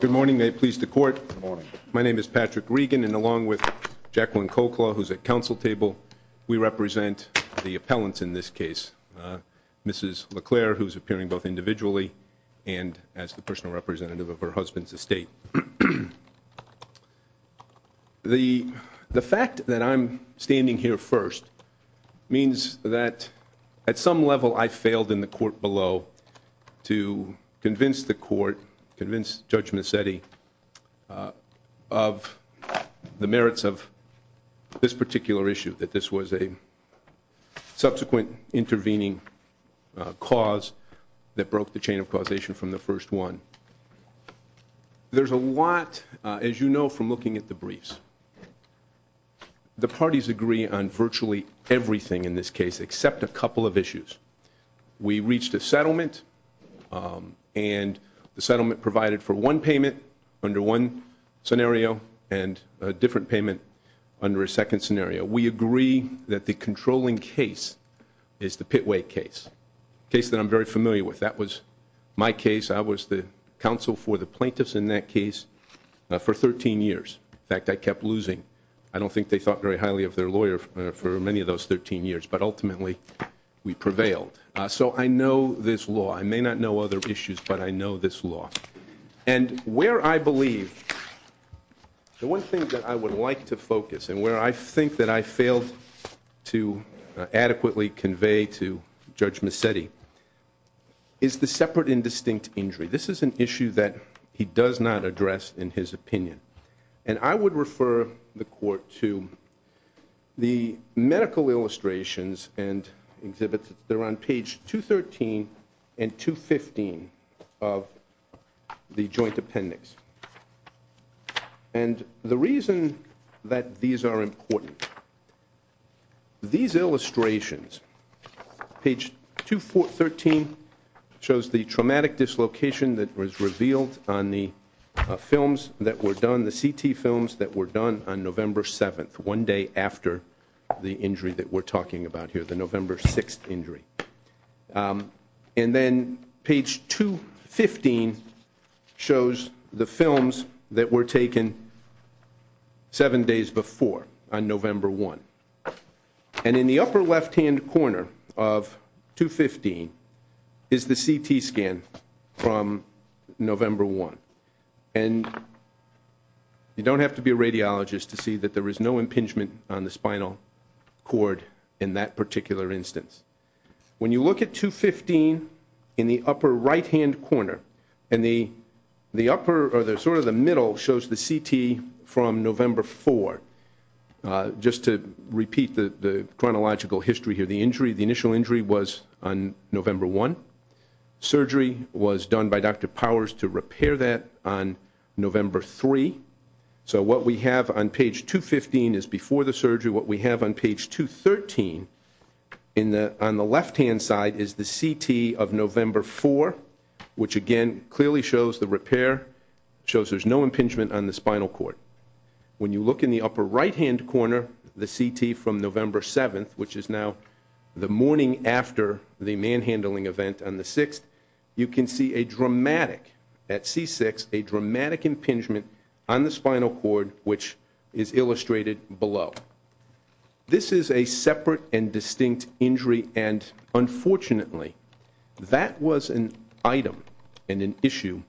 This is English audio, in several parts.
Good morning, may it please the Court. My name is Patrick Regan, and along with Jacqueline Cochlea, who's at council table, we represent the appellants in this case. Mrs. LaClair, who's appearing both individually and as the personal representative of her husband's estate. The fact that I'm standing here first means that at some level I failed in the court below to convince the court, convince Judge Mazzetti, of the merits of this particular issue, that this was a subsequent intervening cause that broke the chain of causation from the first one. There's a lot, as you know from looking at the briefs, the parties agree on virtually everything in this case, except a couple of issues. We reached a settlement, and the settlement provided for one payment under one scenario, and a different payment under a second scenario. We agree that the controlling case is the Pitway case, a case that I'm very familiar with. That was my case. I was the counsel for the plaintiffs in that case for 13 years. In fact, I kept losing. I don't think they thought very highly of their lawyer for many of those 13 years, but ultimately we prevailed. So I know this law. I may not know other issues, but I know this law. And where I believe, the one thing that I would like to focus, and where I think that I failed to adequately convey to Judge Mazzetti, is the separate indistinct injury. This is an issue that he does not address in his opinion. And I would refer the court to the medical illustrations and exhibits that are on page 213 and 215 of the joint appendix. And the reason that these are important, these illustrations, page 213, shows the traumatic dislocation that was revealed on the films that were done, the CT films that were done on November 7th, one day after the injury that we're talking about here, the November 6th injury. And then page 215 shows the films that were taken seven days before, on November 1. And in the upper left-hand corner of 215 is the CT scan from November 1. And you don't have to be a radiologist to see that there is no impingement on the spinal cord in that particular instance. When you look at 215 in the upper right-hand corner, and the upper, or sort of the middle, shows the CT from November 4. Just to repeat the chronological history here, the injury, the initial injury was on November 1. Surgery was done by Dr. Powers to repair that on November 3. So what we have on page 215 is before the surgery, what we have on page 213 on the left-hand side is the CT of November 4, which again clearly shows the repair, shows there's no impingement on the spinal cord. When you look in the upper right-hand corner, the CT from November 7th, which is now the morning after the manhandling event on the 6th, you can see a dramatic, at C6, a dramatic This is a separate and distinct injury, and unfortunately, that was an item and an issue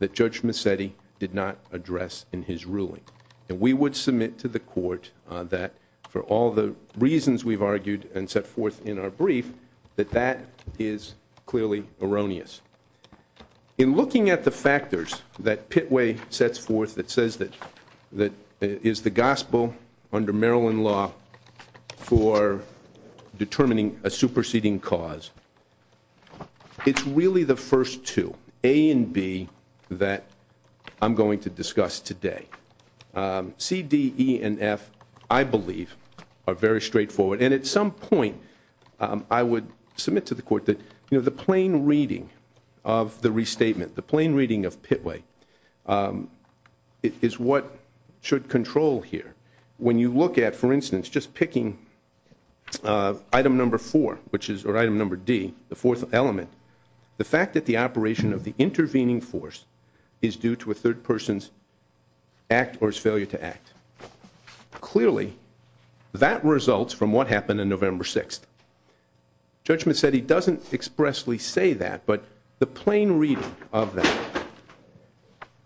that Judge Massetti did not address in his ruling. And we would submit to the court that for all the reasons we've argued and set forth in our brief, that that is clearly erroneous. In looking at the factors that Pitway sets forth that says that it is the gospel under Maryland law for determining a superseding cause, it's really the first two, A and B, that I'm going to discuss today. C, D, E, and F, I believe, are very straightforward. And at some point, I would submit to the court that the plain reading of the restatement, the plain reading of Pitway, is what should control here. When you look at, for instance, just picking item number four, or item number D, the fourth element, the fact that the operation of the intervening force is due to a third person's act or his failure to act. Clearly, that results from what happened on November 6th. Judge Massetti doesn't expressly say that, but the plain reading of that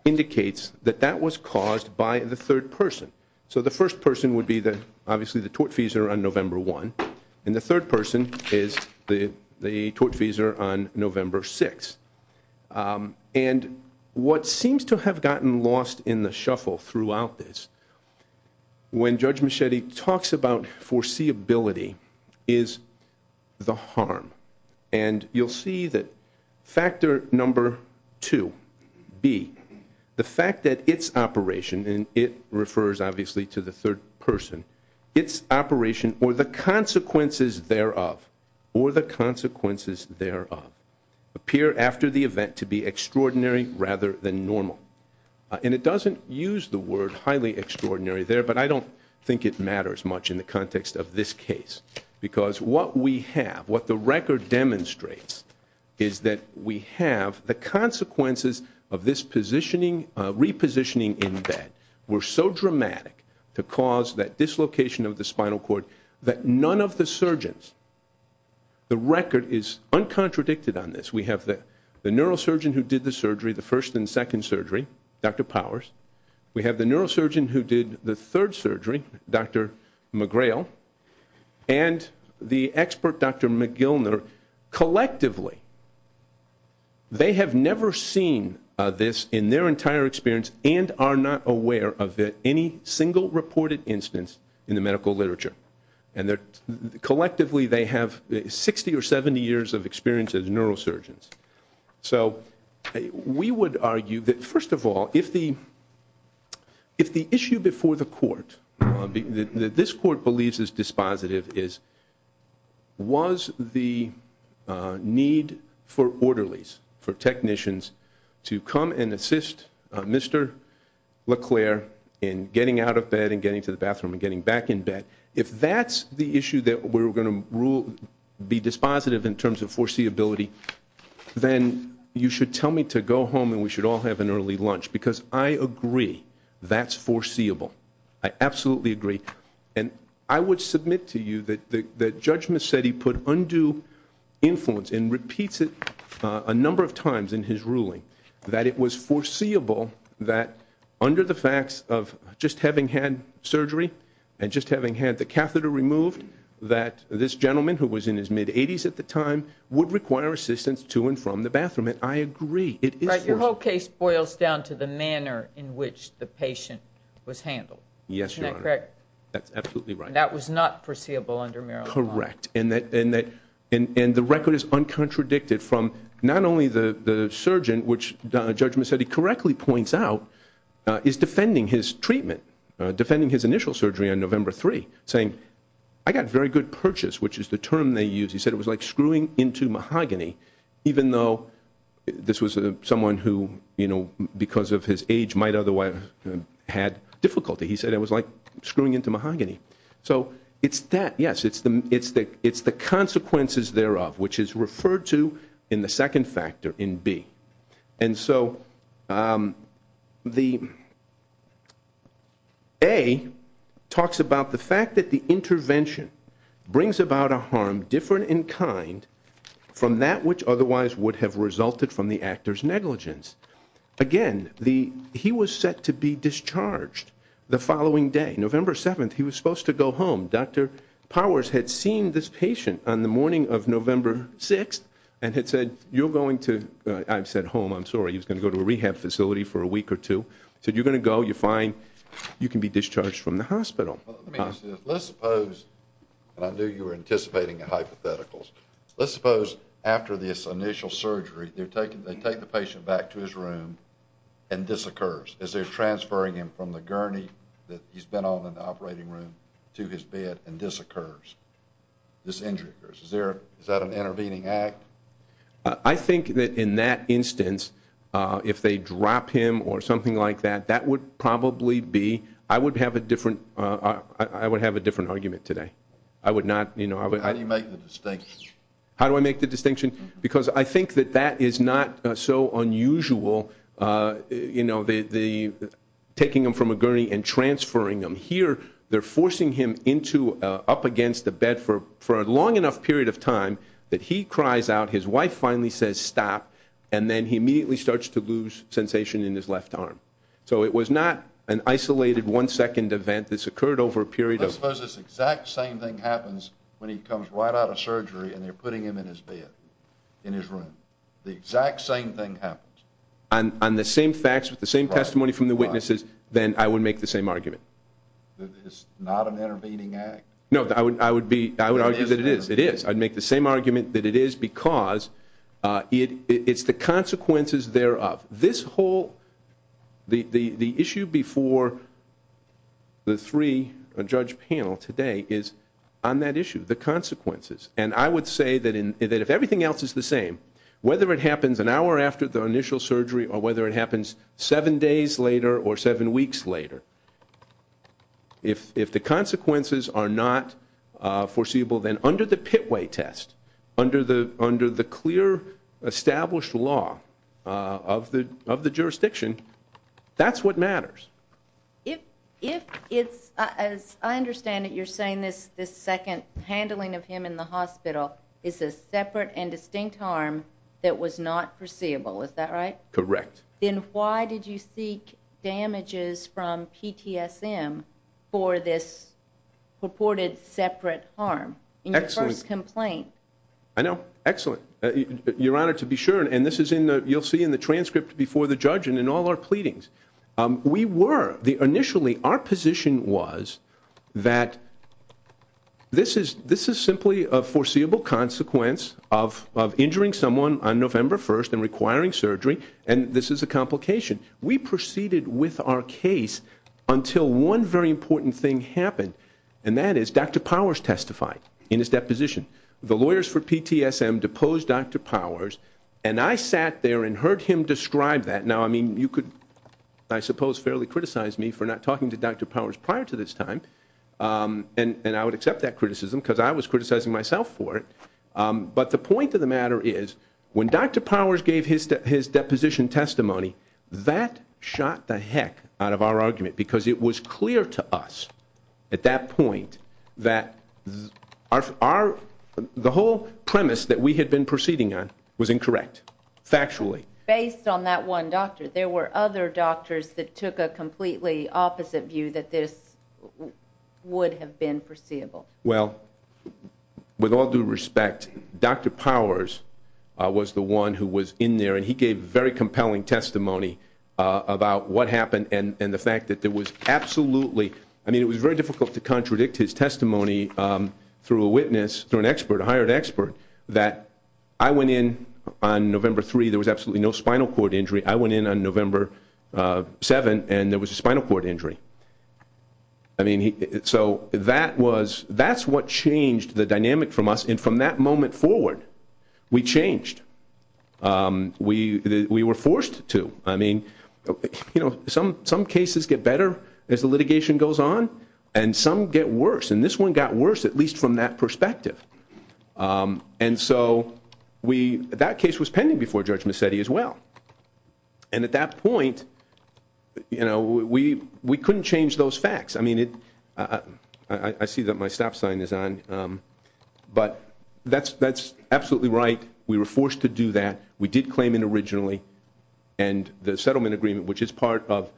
indicates that that was caused by the third person. So the first person would be, obviously, the tortfeasor on November 1, and the third person is the tortfeasor on November 6. And what seems to have gotten lost in the shuffle throughout this, when Judge Massetti talks about foreseeability, is the harm. And you'll see that factor number two, B, the fact that its operation, and it refers, obviously, to the third person, its operation or the consequences thereof, or the consequences thereof, appear after the third person's act or his failure to act. And that's why it's highly extraordinary there, but I don't think it matters much in the context of this case. Because what we have, what the record demonstrates, is that we have the consequences of this repositioning in bed were so dramatic to cause that dislocation of the spinal cord that none of the surgeons, the record is uncontradicted on this. We have the neurosurgeon who did the surgery, the first and second surgery, Dr. Powers. We have the neurosurgeon who did the third surgery, Dr. McGrail. And the expert, Dr. McGilner, collectively, they have never seen this in their entire experience and are not aware of it, any single reported instance in the medical literature. And collectively, they have 60 or 70 years of experience as neurosurgeons. So we would argue that, first of all, if the issue before the court, that this court believes is dispositive, is was the need for orderlies, for technicians to come and assist Mr. LeClaire in getting out of bed and getting to the bathroom and getting back in bed, if that's the issue that we're going to be dispositive in terms of foreseeability, then you should tell me to go home and we should all have an early lunch. Because I agree that's foreseeable. I absolutely agree. And I would submit to you that Judge Mercedi put undue influence and repeats it a number of times in his ruling that it was foreseeable that under the facts of just having had surgery and just having had the catheter removed that this gentleman, who was in his mid-80s at the time, would require assistance to and from the bathroom. And I agree. It is foreseeable. Right. Your whole case boils down to the manner in which the patient was handled. Yes, Your Honor. Isn't that correct? That's absolutely right. And that was not foreseeable under Maryland law? Correct. And the record is uncontradicted from not only the surgeon, which Judge Mercedi correctly points out, is defending his treatment, defending his initial surgery on November 3, saying, I got very good purchase, which is the term they used. He said it was like screwing into mahogany, even though this was someone who, because of his age, might otherwise had difficulty. He said it was like screwing into mahogany. So it's that, yes. It's the same thing. The A talks about the fact that the intervention brings about a harm different in kind from that which otherwise would have resulted from the actor's negligence. Again, he was set to be discharged the following day. November 7, he was supposed to go home. Dr. Powers had seen this patient on the morning of November 6 and had said, you're going to go to a rehab facility for a week or two. He said, you're going to go. You're fine. You can be discharged from the hospital. Let's suppose, and I knew you were anticipating a hypothetical, let's suppose after this initial surgery, they take the patient back to his room and this occurs. As they're transferring him from the gurney that he's been on in the operating room to his bed and this occurs, this injury occurs. Is that an intervening act? I think that in that instance, if they drop him or something like that, that would probably be, I would have a different argument today. I would not, you know, I would. How do you make the distinction? How do I make the distinction? Because I think that that is not so unusual, you know, the taking him from a gurney and transferring him. Here, they're forcing him into, up against a bed for a long enough period of time that he cries out, his wife finally says stop, and then he immediately starts to lose sensation in his left arm. So it was not an isolated one-second event. This occurred over a period of... Let's suppose this exact same thing happens when he comes right out of surgery and they're putting him in his bed, in his room. The exact same thing happens. On the same facts, with the same testimony from the witnesses, then I would make the same argument. It's not an intervening act? No, I would argue that it is. It is. I'd make the same argument that it is because it's the consequences thereof. This whole, the issue before the three, the judge panel today is on that issue, the consequences. And I would say that if everything else is the same, whether it happens an hour after the initial surgery or whether it happens seven days later or seven weeks later, if the consequences are not foreseeable, then under the pitway test, under the clear established law of the jurisdiction, that's what matters. If it's, as I understand it, you're saying this second handling of him in the hospital is a separate and distinct harm that was not foreseeable, is that right? Correct. Then why did you seek damages from PTSM for this purported separate harm in your first complaint? Excellent. I know. Excellent. Your Honor, to be sure, and this is in the, you'll see in the transcript before the judge and in all our pleadings. We were, the initially, our position was that this is simply a foreseeable consequence of injuring someone on November 1st and requiring surgery, and this is a complication. We proceeded with our case until one very important thing happened, and that is Dr. Powers testified in his deposition. The lawyers for PTSM deposed Dr. Powers, and I sat there and heard him describe that. Now, I mean, you could, I suppose, fairly criticize me for not talking to Dr. Powers prior to this time, and I would accept that criticism because I was criticizing myself for it. But the point of the matter is, when Dr. Powers gave his deposition testimony, that shot the heck out of our argument because it was clear to us at that point that our, the whole premise that we had been proceeding on was incorrect, factually. Based on that one doctor, there were other doctors that took a completely opposite view that this would have been foreseeable. Well, with all due respect, Dr. Powers was the one who was in there, and he gave very compelling testimony about what happened and the fact that there was absolutely, I mean, it was very difficult to contradict his testimony through a witness, through an expert, a hired expert, that I went in on November 3, there was absolutely no spinal cord injury. I went in on November 7, and there was a spinal cord injury. I mean, so that was, that was the that's what changed the dynamic from us, and from that moment forward, we changed. We were forced to. I mean, you know, some cases get better as the litigation goes on, and some get worse, and this one got worse at least from that perspective. And so, we, that case was pending before Judge Mecedi as well. And at that point, you know, we couldn't change those facts. I mean, it, I see that my stop sign is on, but that's absolutely right. We were forced to do that. We did claim it originally, and the settlement agreement, which is part of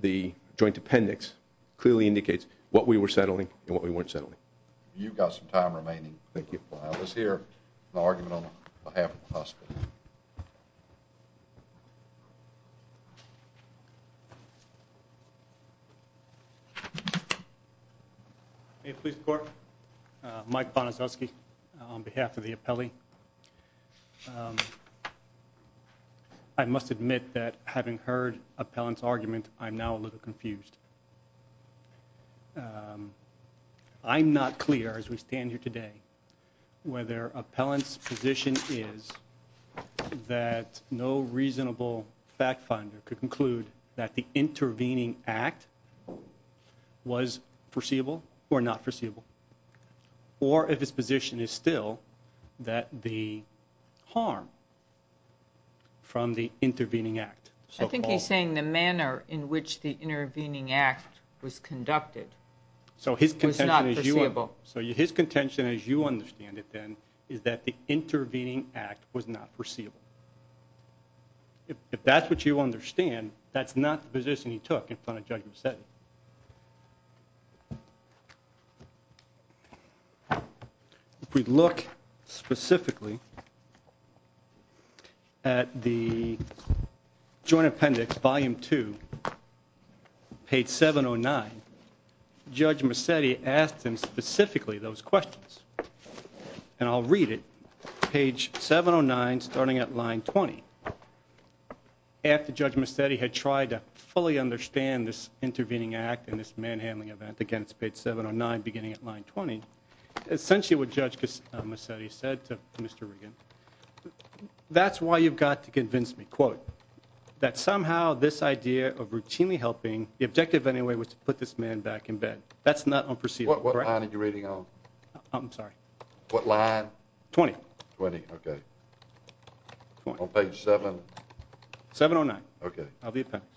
the joint appendix, clearly indicates what we were settling and what we weren't settling. You've got some time remaining. Thank you. Let's hear an argument on behalf of the hospital. May it please the Court? Mike Bonasowski on behalf of the appellee. I must admit that having heard appellant's argument, I'm now a little confused. I'm not clear, as we stand here today, whether appellant's position is that no reasonable fact finder could conclude that the intervening act was foreseeable or not foreseeable, or if his position is still that the harm from the intervening act. I think he's saying the manner in which the intervening act was conducted was not foreseeable. So his contention, as you understand it then, is that the intervening act was not foreseeable. If that's what you understand, that's not the position he took in front of Judge Mercedi. If we look specifically at the joint appendix volume two, page 709, Judge Mercedi asked him specifically those questions, and I'll read it, page 709 starting at line 20. After Judge Mercedi had tried to fully understand this intervening act and this manhandling event, again it's page 709 beginning at line 20, essentially what Judge Mercedi said to Mr. Riggin, that's why you've got to convince me, quote, that somehow this idea of routinely helping, the objective anyway was to put this man back in bed. That's not unforeseeable. What line are you reading on? I'm sorry. What line? 20. 20, okay. On page 7? 709. Okay. Of the appendix.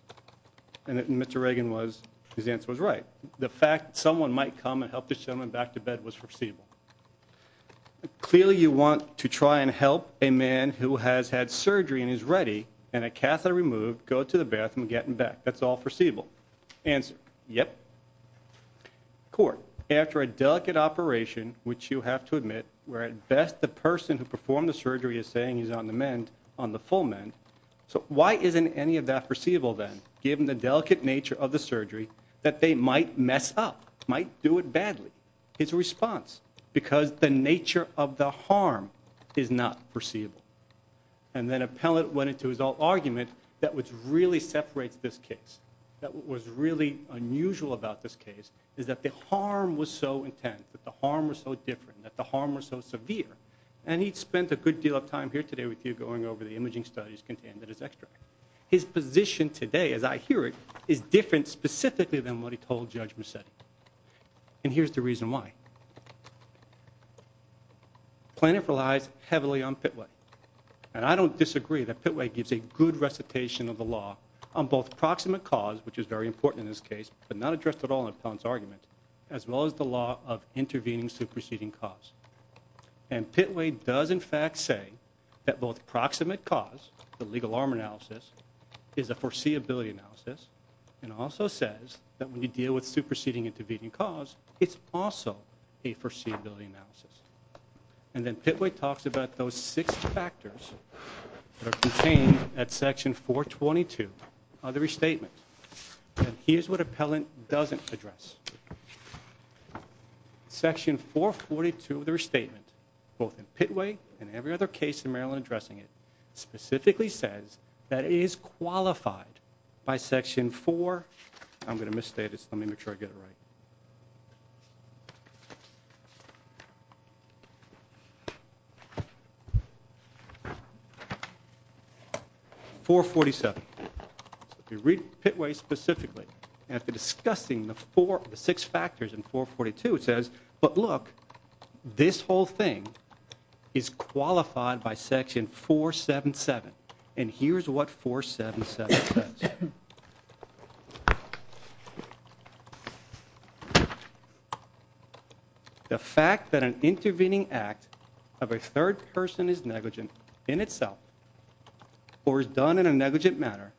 And Mr. Riggin was, his answer was right. The fact someone might come and help this gentleman back to bed was foreseeable. Clearly you want to try and help a man who has had surgery and is ready, and a catheter is ready. Court, after a delicate operation, which you have to admit, where at best the person who performed the surgery is saying he's on the mend, on the full mend, so why isn't any of that foreseeable then, given the delicate nature of the surgery, that they might mess up, might do it badly? His response, because the nature of the harm is not foreseeable. And then appellant went into his own argument that what really separates this case, that what was really unusual about this case, is that the harm was so intense, that the harm was so different, that the harm was so severe, and he'd spent a good deal of time here today with you going over the imaging studies contained in his extract. His position today, as I hear it, is different specifically than what he told Judge Merced. And here's the reason why. Plaintiff relies heavily on Pitway. And I don't disagree that Pitway gives a good recitation of the law on both proximate cause, which is very important in this case, but not addressed at all in appellant's argument, as well as the law of intervening, superseding cause. And Pitway does in fact say that both proximate cause, the legal harm analysis, is a foreseeability analysis, and also says that when you deal with superseding, intervening cause, it's also a foreseeability analysis. And then Pitway talks about those six factors that are contained at section 422 of the restatement. And here's what appellant doesn't address. Section 442 of the restatement, both in Pitway and every other case in Maryland addressing it, specifically says that it is qualified by section 4... I'm going to misstate this. Let me make sure I get it right. 447. If you read Pitway specifically, after discussing the four, the six factors in 442, it says, but look, this whole thing is qualified by section 477. And here's what 477 says. The fact that an intervening act of a third person is negligent in itself, or is done in a negligent manner,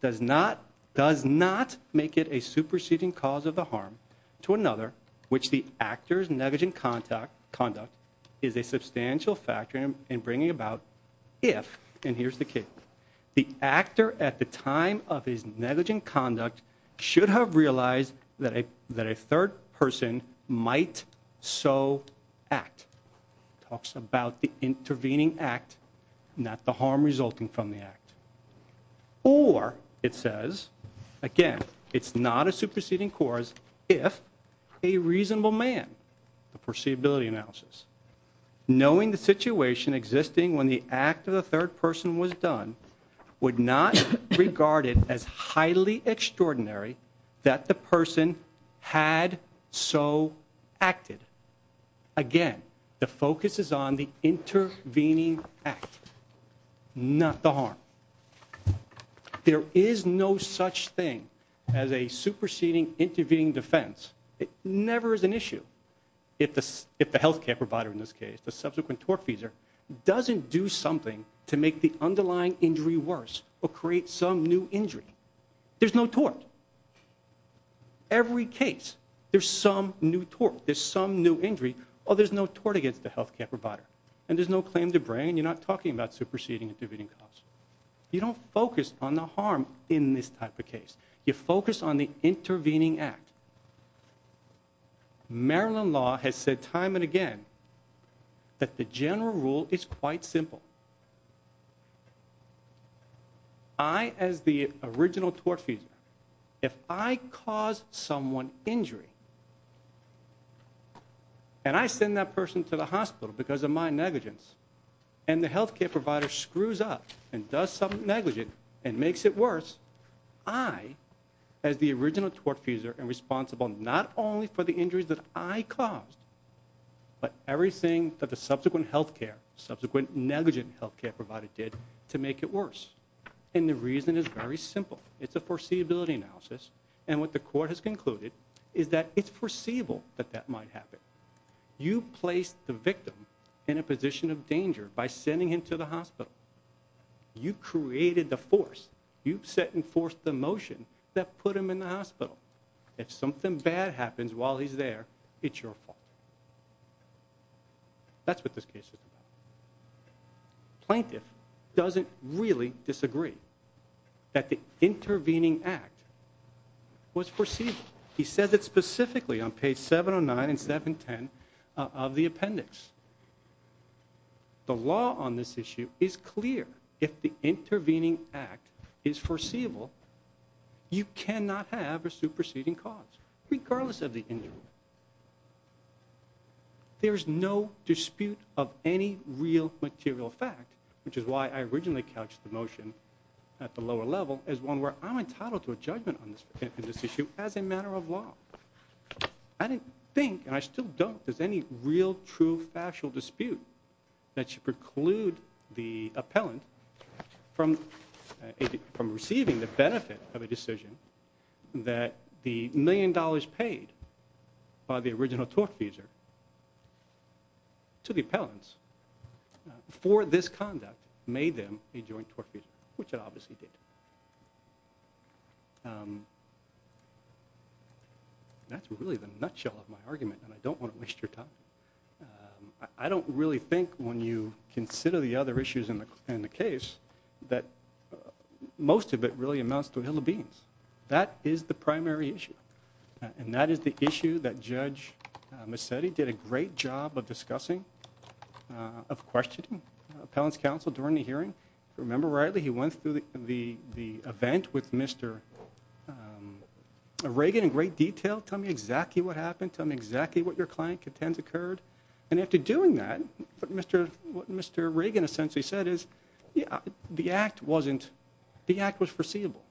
does not make it a superseding cause of the harm to another which the actor's negligent conduct is a substantial factor in bringing about if, and here's the key, the actor at the time of his negligent conduct should have realized that a third person might so act. Talks about the intervening act, not the harm resulting from the act. Or, it says, again, it's not a superseding cause if a reasonable man, the third person was done, would not regard it as highly extraordinary that the person had so acted. Again, the focus is on the intervening act, not the harm. There is no such thing as a superseding intervening defense. It never is an issue if the health care provider in this case, the subsequent tortfeasor, doesn't do something to make the underlying injury worse or create some new injury. There's no tort. Every case, there's some new tort, there's some new injury, or there's no tort against the health care provider. And there's no claim to bring, and you're not talking about superseding intervening cause. You don't focus on the harm in this type of case. You focus on the intervening act. Maryland law has said time and again that the general rule is quite simple. I, as the original tortfeasor, if I cause someone injury, and I send that person to the hospital because of my negligence, and the health care provider screws up and does something negligent and makes it worse, I, as the original tortfeasor, am responsible not only for the injuries that I caused, but everything that the subsequent health care, subsequent negligent health care provider did to make it worse. And the reason is very simple. It's a foreseeability analysis, and what the court has concluded is that it's foreseeable that that might happen. You placed the victim in a position of danger by sending him to the hospital. You created the force. You set in force the motion that put him in the hospital. If something bad happens while he's there, it's your fault. That's what this case is about. Plaintiff doesn't really disagree that the intervening act was foreseeable. He says it specifically on page 709 and 710 of the appendix. The law on this issue is clear if the intervening act was foreseeable. It's foreseeable. You cannot have a superseding cause, regardless of the injury. There's no dispute of any real material fact, which is why I originally couched the motion at the lower level as one where I'm entitled to a judgment on this issue as a matter of law. I didn't think, and I still don't, there's any real, true, factual dispute that should be made. I don't really think that when you consider the other issues in the case, that most of it really amounts to a hill of beans. That is the primary issue, and that is the issue that Judge Massetti did a great job of discussing, of questioning appellants counsel during the hearing. If I remember rightly, he went through the event with Mr. Reagan in great detail, tell me exactly what happened, tell me exactly what your client contends occurred, and after doing that, what Mr. Reagan essentially said is, the act wasn't, the act was foreseeable.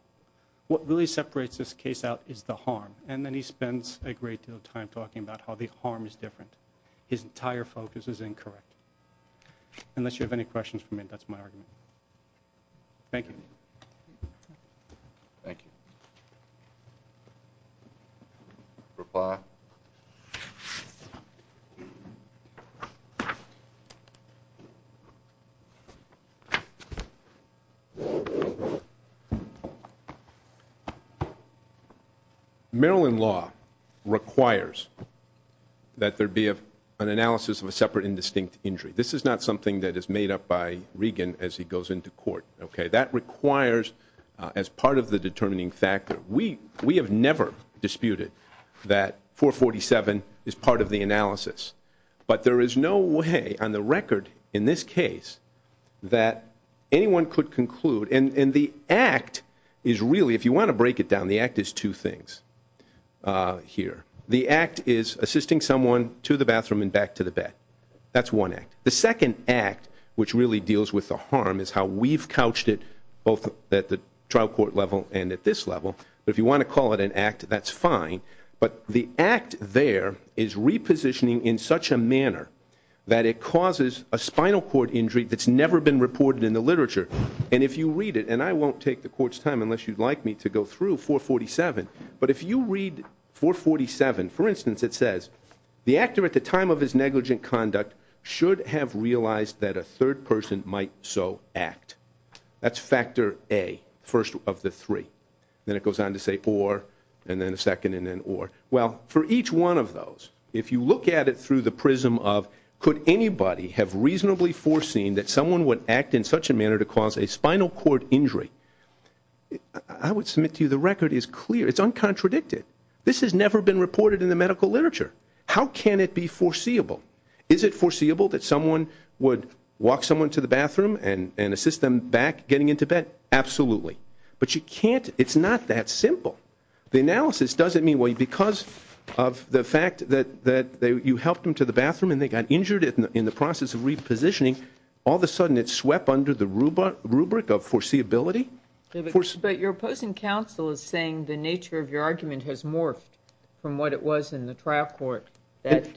What really separates this case out is the harm, and then he spends a great deal of time talking about how the harm is different. His entire focus is incorrect. Unless you have any questions for me, that's my argument. Thank you. Thank you. Reply. Maryland law requires that there be an analysis of a separate and distinct injury. This is not something that is made up by Reagan as he goes into court. That requires, as part of the determining factor, we have never disputed that 447 is part of the analysis, but there is a difference. The act is really, if you want to break it down, the act is two things here. The act is assisting someone to the bathroom and back to the bed. That's one act. The second act, which really deals with the harm, is how we've couched it both at the trial court level and at this level, but if you want to call it an act, that's fine, but the act there is repositioning in such a manner that it causes a spinal cord injury that's never been reported in the literature. And if you read it, and I won't take the court's time unless you'd like me to go through 447, but if you read 447, for instance it says, the actor at the time of his negligent conduct should have realized that a third person might so act. That's factor A, first of the three. Then it goes on to say or, and then a second and then or. Well, for each one of those, if you look at it through the prism of could anybody have reasonably foreseen that someone would act in such a manner to cause a spinal cord injury, I would submit to you the record is clear. It's uncontradicted. This has never been reported in the medical literature. How can it be foreseeable? Is it foreseeable that someone would walk someone to the bathroom and assist them back getting into bed? Absolutely. But you can't, it's not that simple. The analysis doesn't mean because of the fact that you helped them to the bathroom and they got injured in the process of repositioning, all of a sudden it swept under the rubric of foreseeability. But your opposing counsel is saying the nature of your argument has morphed from what it was in the trial court that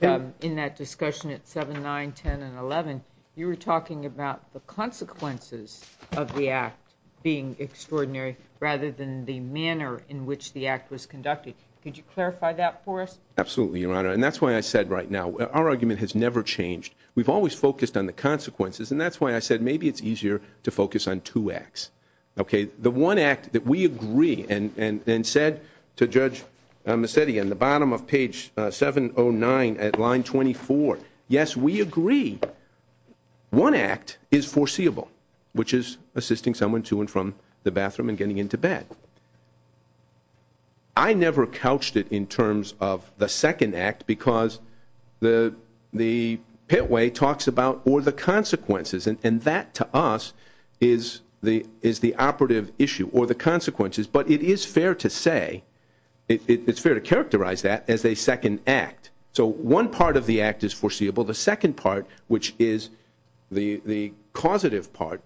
in that discussion at 7, 9, 10, and 11, you were talking about the consequences of the act being extraordinary rather than the manner in which the act was conducted. Could you clarify that for us? Absolutely, your honor. And that's why I said right now, our argument has never changed. We've always focused on the consequences and that's why I said maybe it's easier to focus on two acts. Okay, the one act that we agree and said to Judge Mecedian, the bottom of page 709 at line 24, yes, we agree one act is foreseeable, which is assisting someone to and from the bathroom and getting into bed. I never couched it in terms of the second act because the pit way talks about or the consequences and that to us is the operative issue or the consequences. But it is fair to say, it's fair to characterize that as a second act. So one part of the act is foreseeable, the second part, which is the causative part.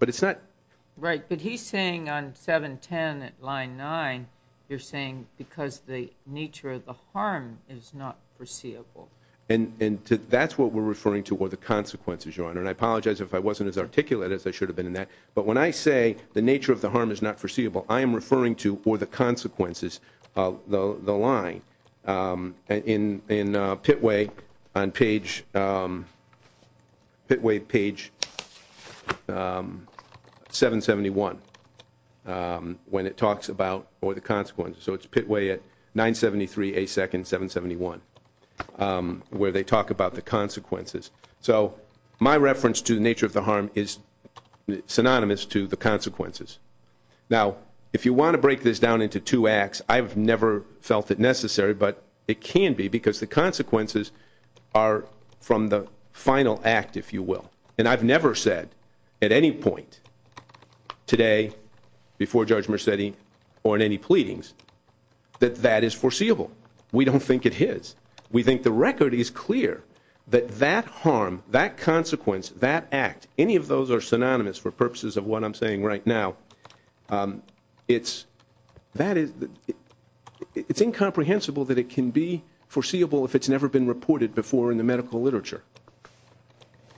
Right, but he's saying on 7, 10 at line 9, you're saying because the nature of the harm is not foreseeable. And that's what we're referring to or the consequences, your honor. And I apologize if I wasn't as articulate as I should have been in that. But when I say the nature of the harm is not foreseeable, I am referring to or the consequences of the line in pit way on page, pit way page 771, when it talks about or the consequences. So it's pit way at 973, a second 771, where they talk about the consequences. So my reference to the nature of the harm is synonymous to the consequences. Now, if you want to break this down into two acts, I've never felt it necessary, but it can be because the consequences are from the final act, if you will. And I've never said at any point today before Judge Mercedi or in any pleadings that that is foreseeable. We don't think it is. We think the record is clear that that harm, that consequence, that act, any of those are synonymous for that. It's incomprehensible that it can be foreseeable if it's never been reported before in the medical literature.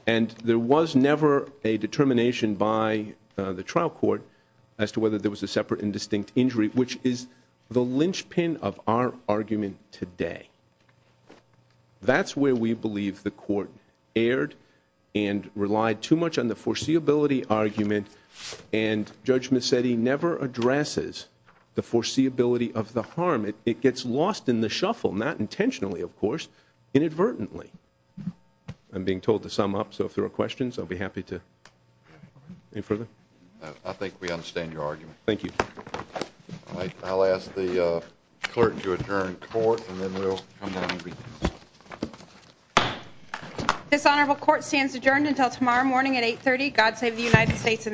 And there was never a determination by the trial court as to whether there was a separate and distinct injury, which is the linchpin of our argument today. That's where we believe the court erred and relied too much on the foreseeability argument and Judge Mercedi never addresses the foreseeability of the harm. It gets lost in the shuffle, not intentionally, of course, inadvertently. I'm being told to sum up, so if there are questions, I'll be happy to. Any further? I think we understand your argument. Thank you. I'll ask the clerk to adjourn court and then we'll come down and begin. This honorable court stands adjourned until tomorrow morning at 8.30. God save the United States.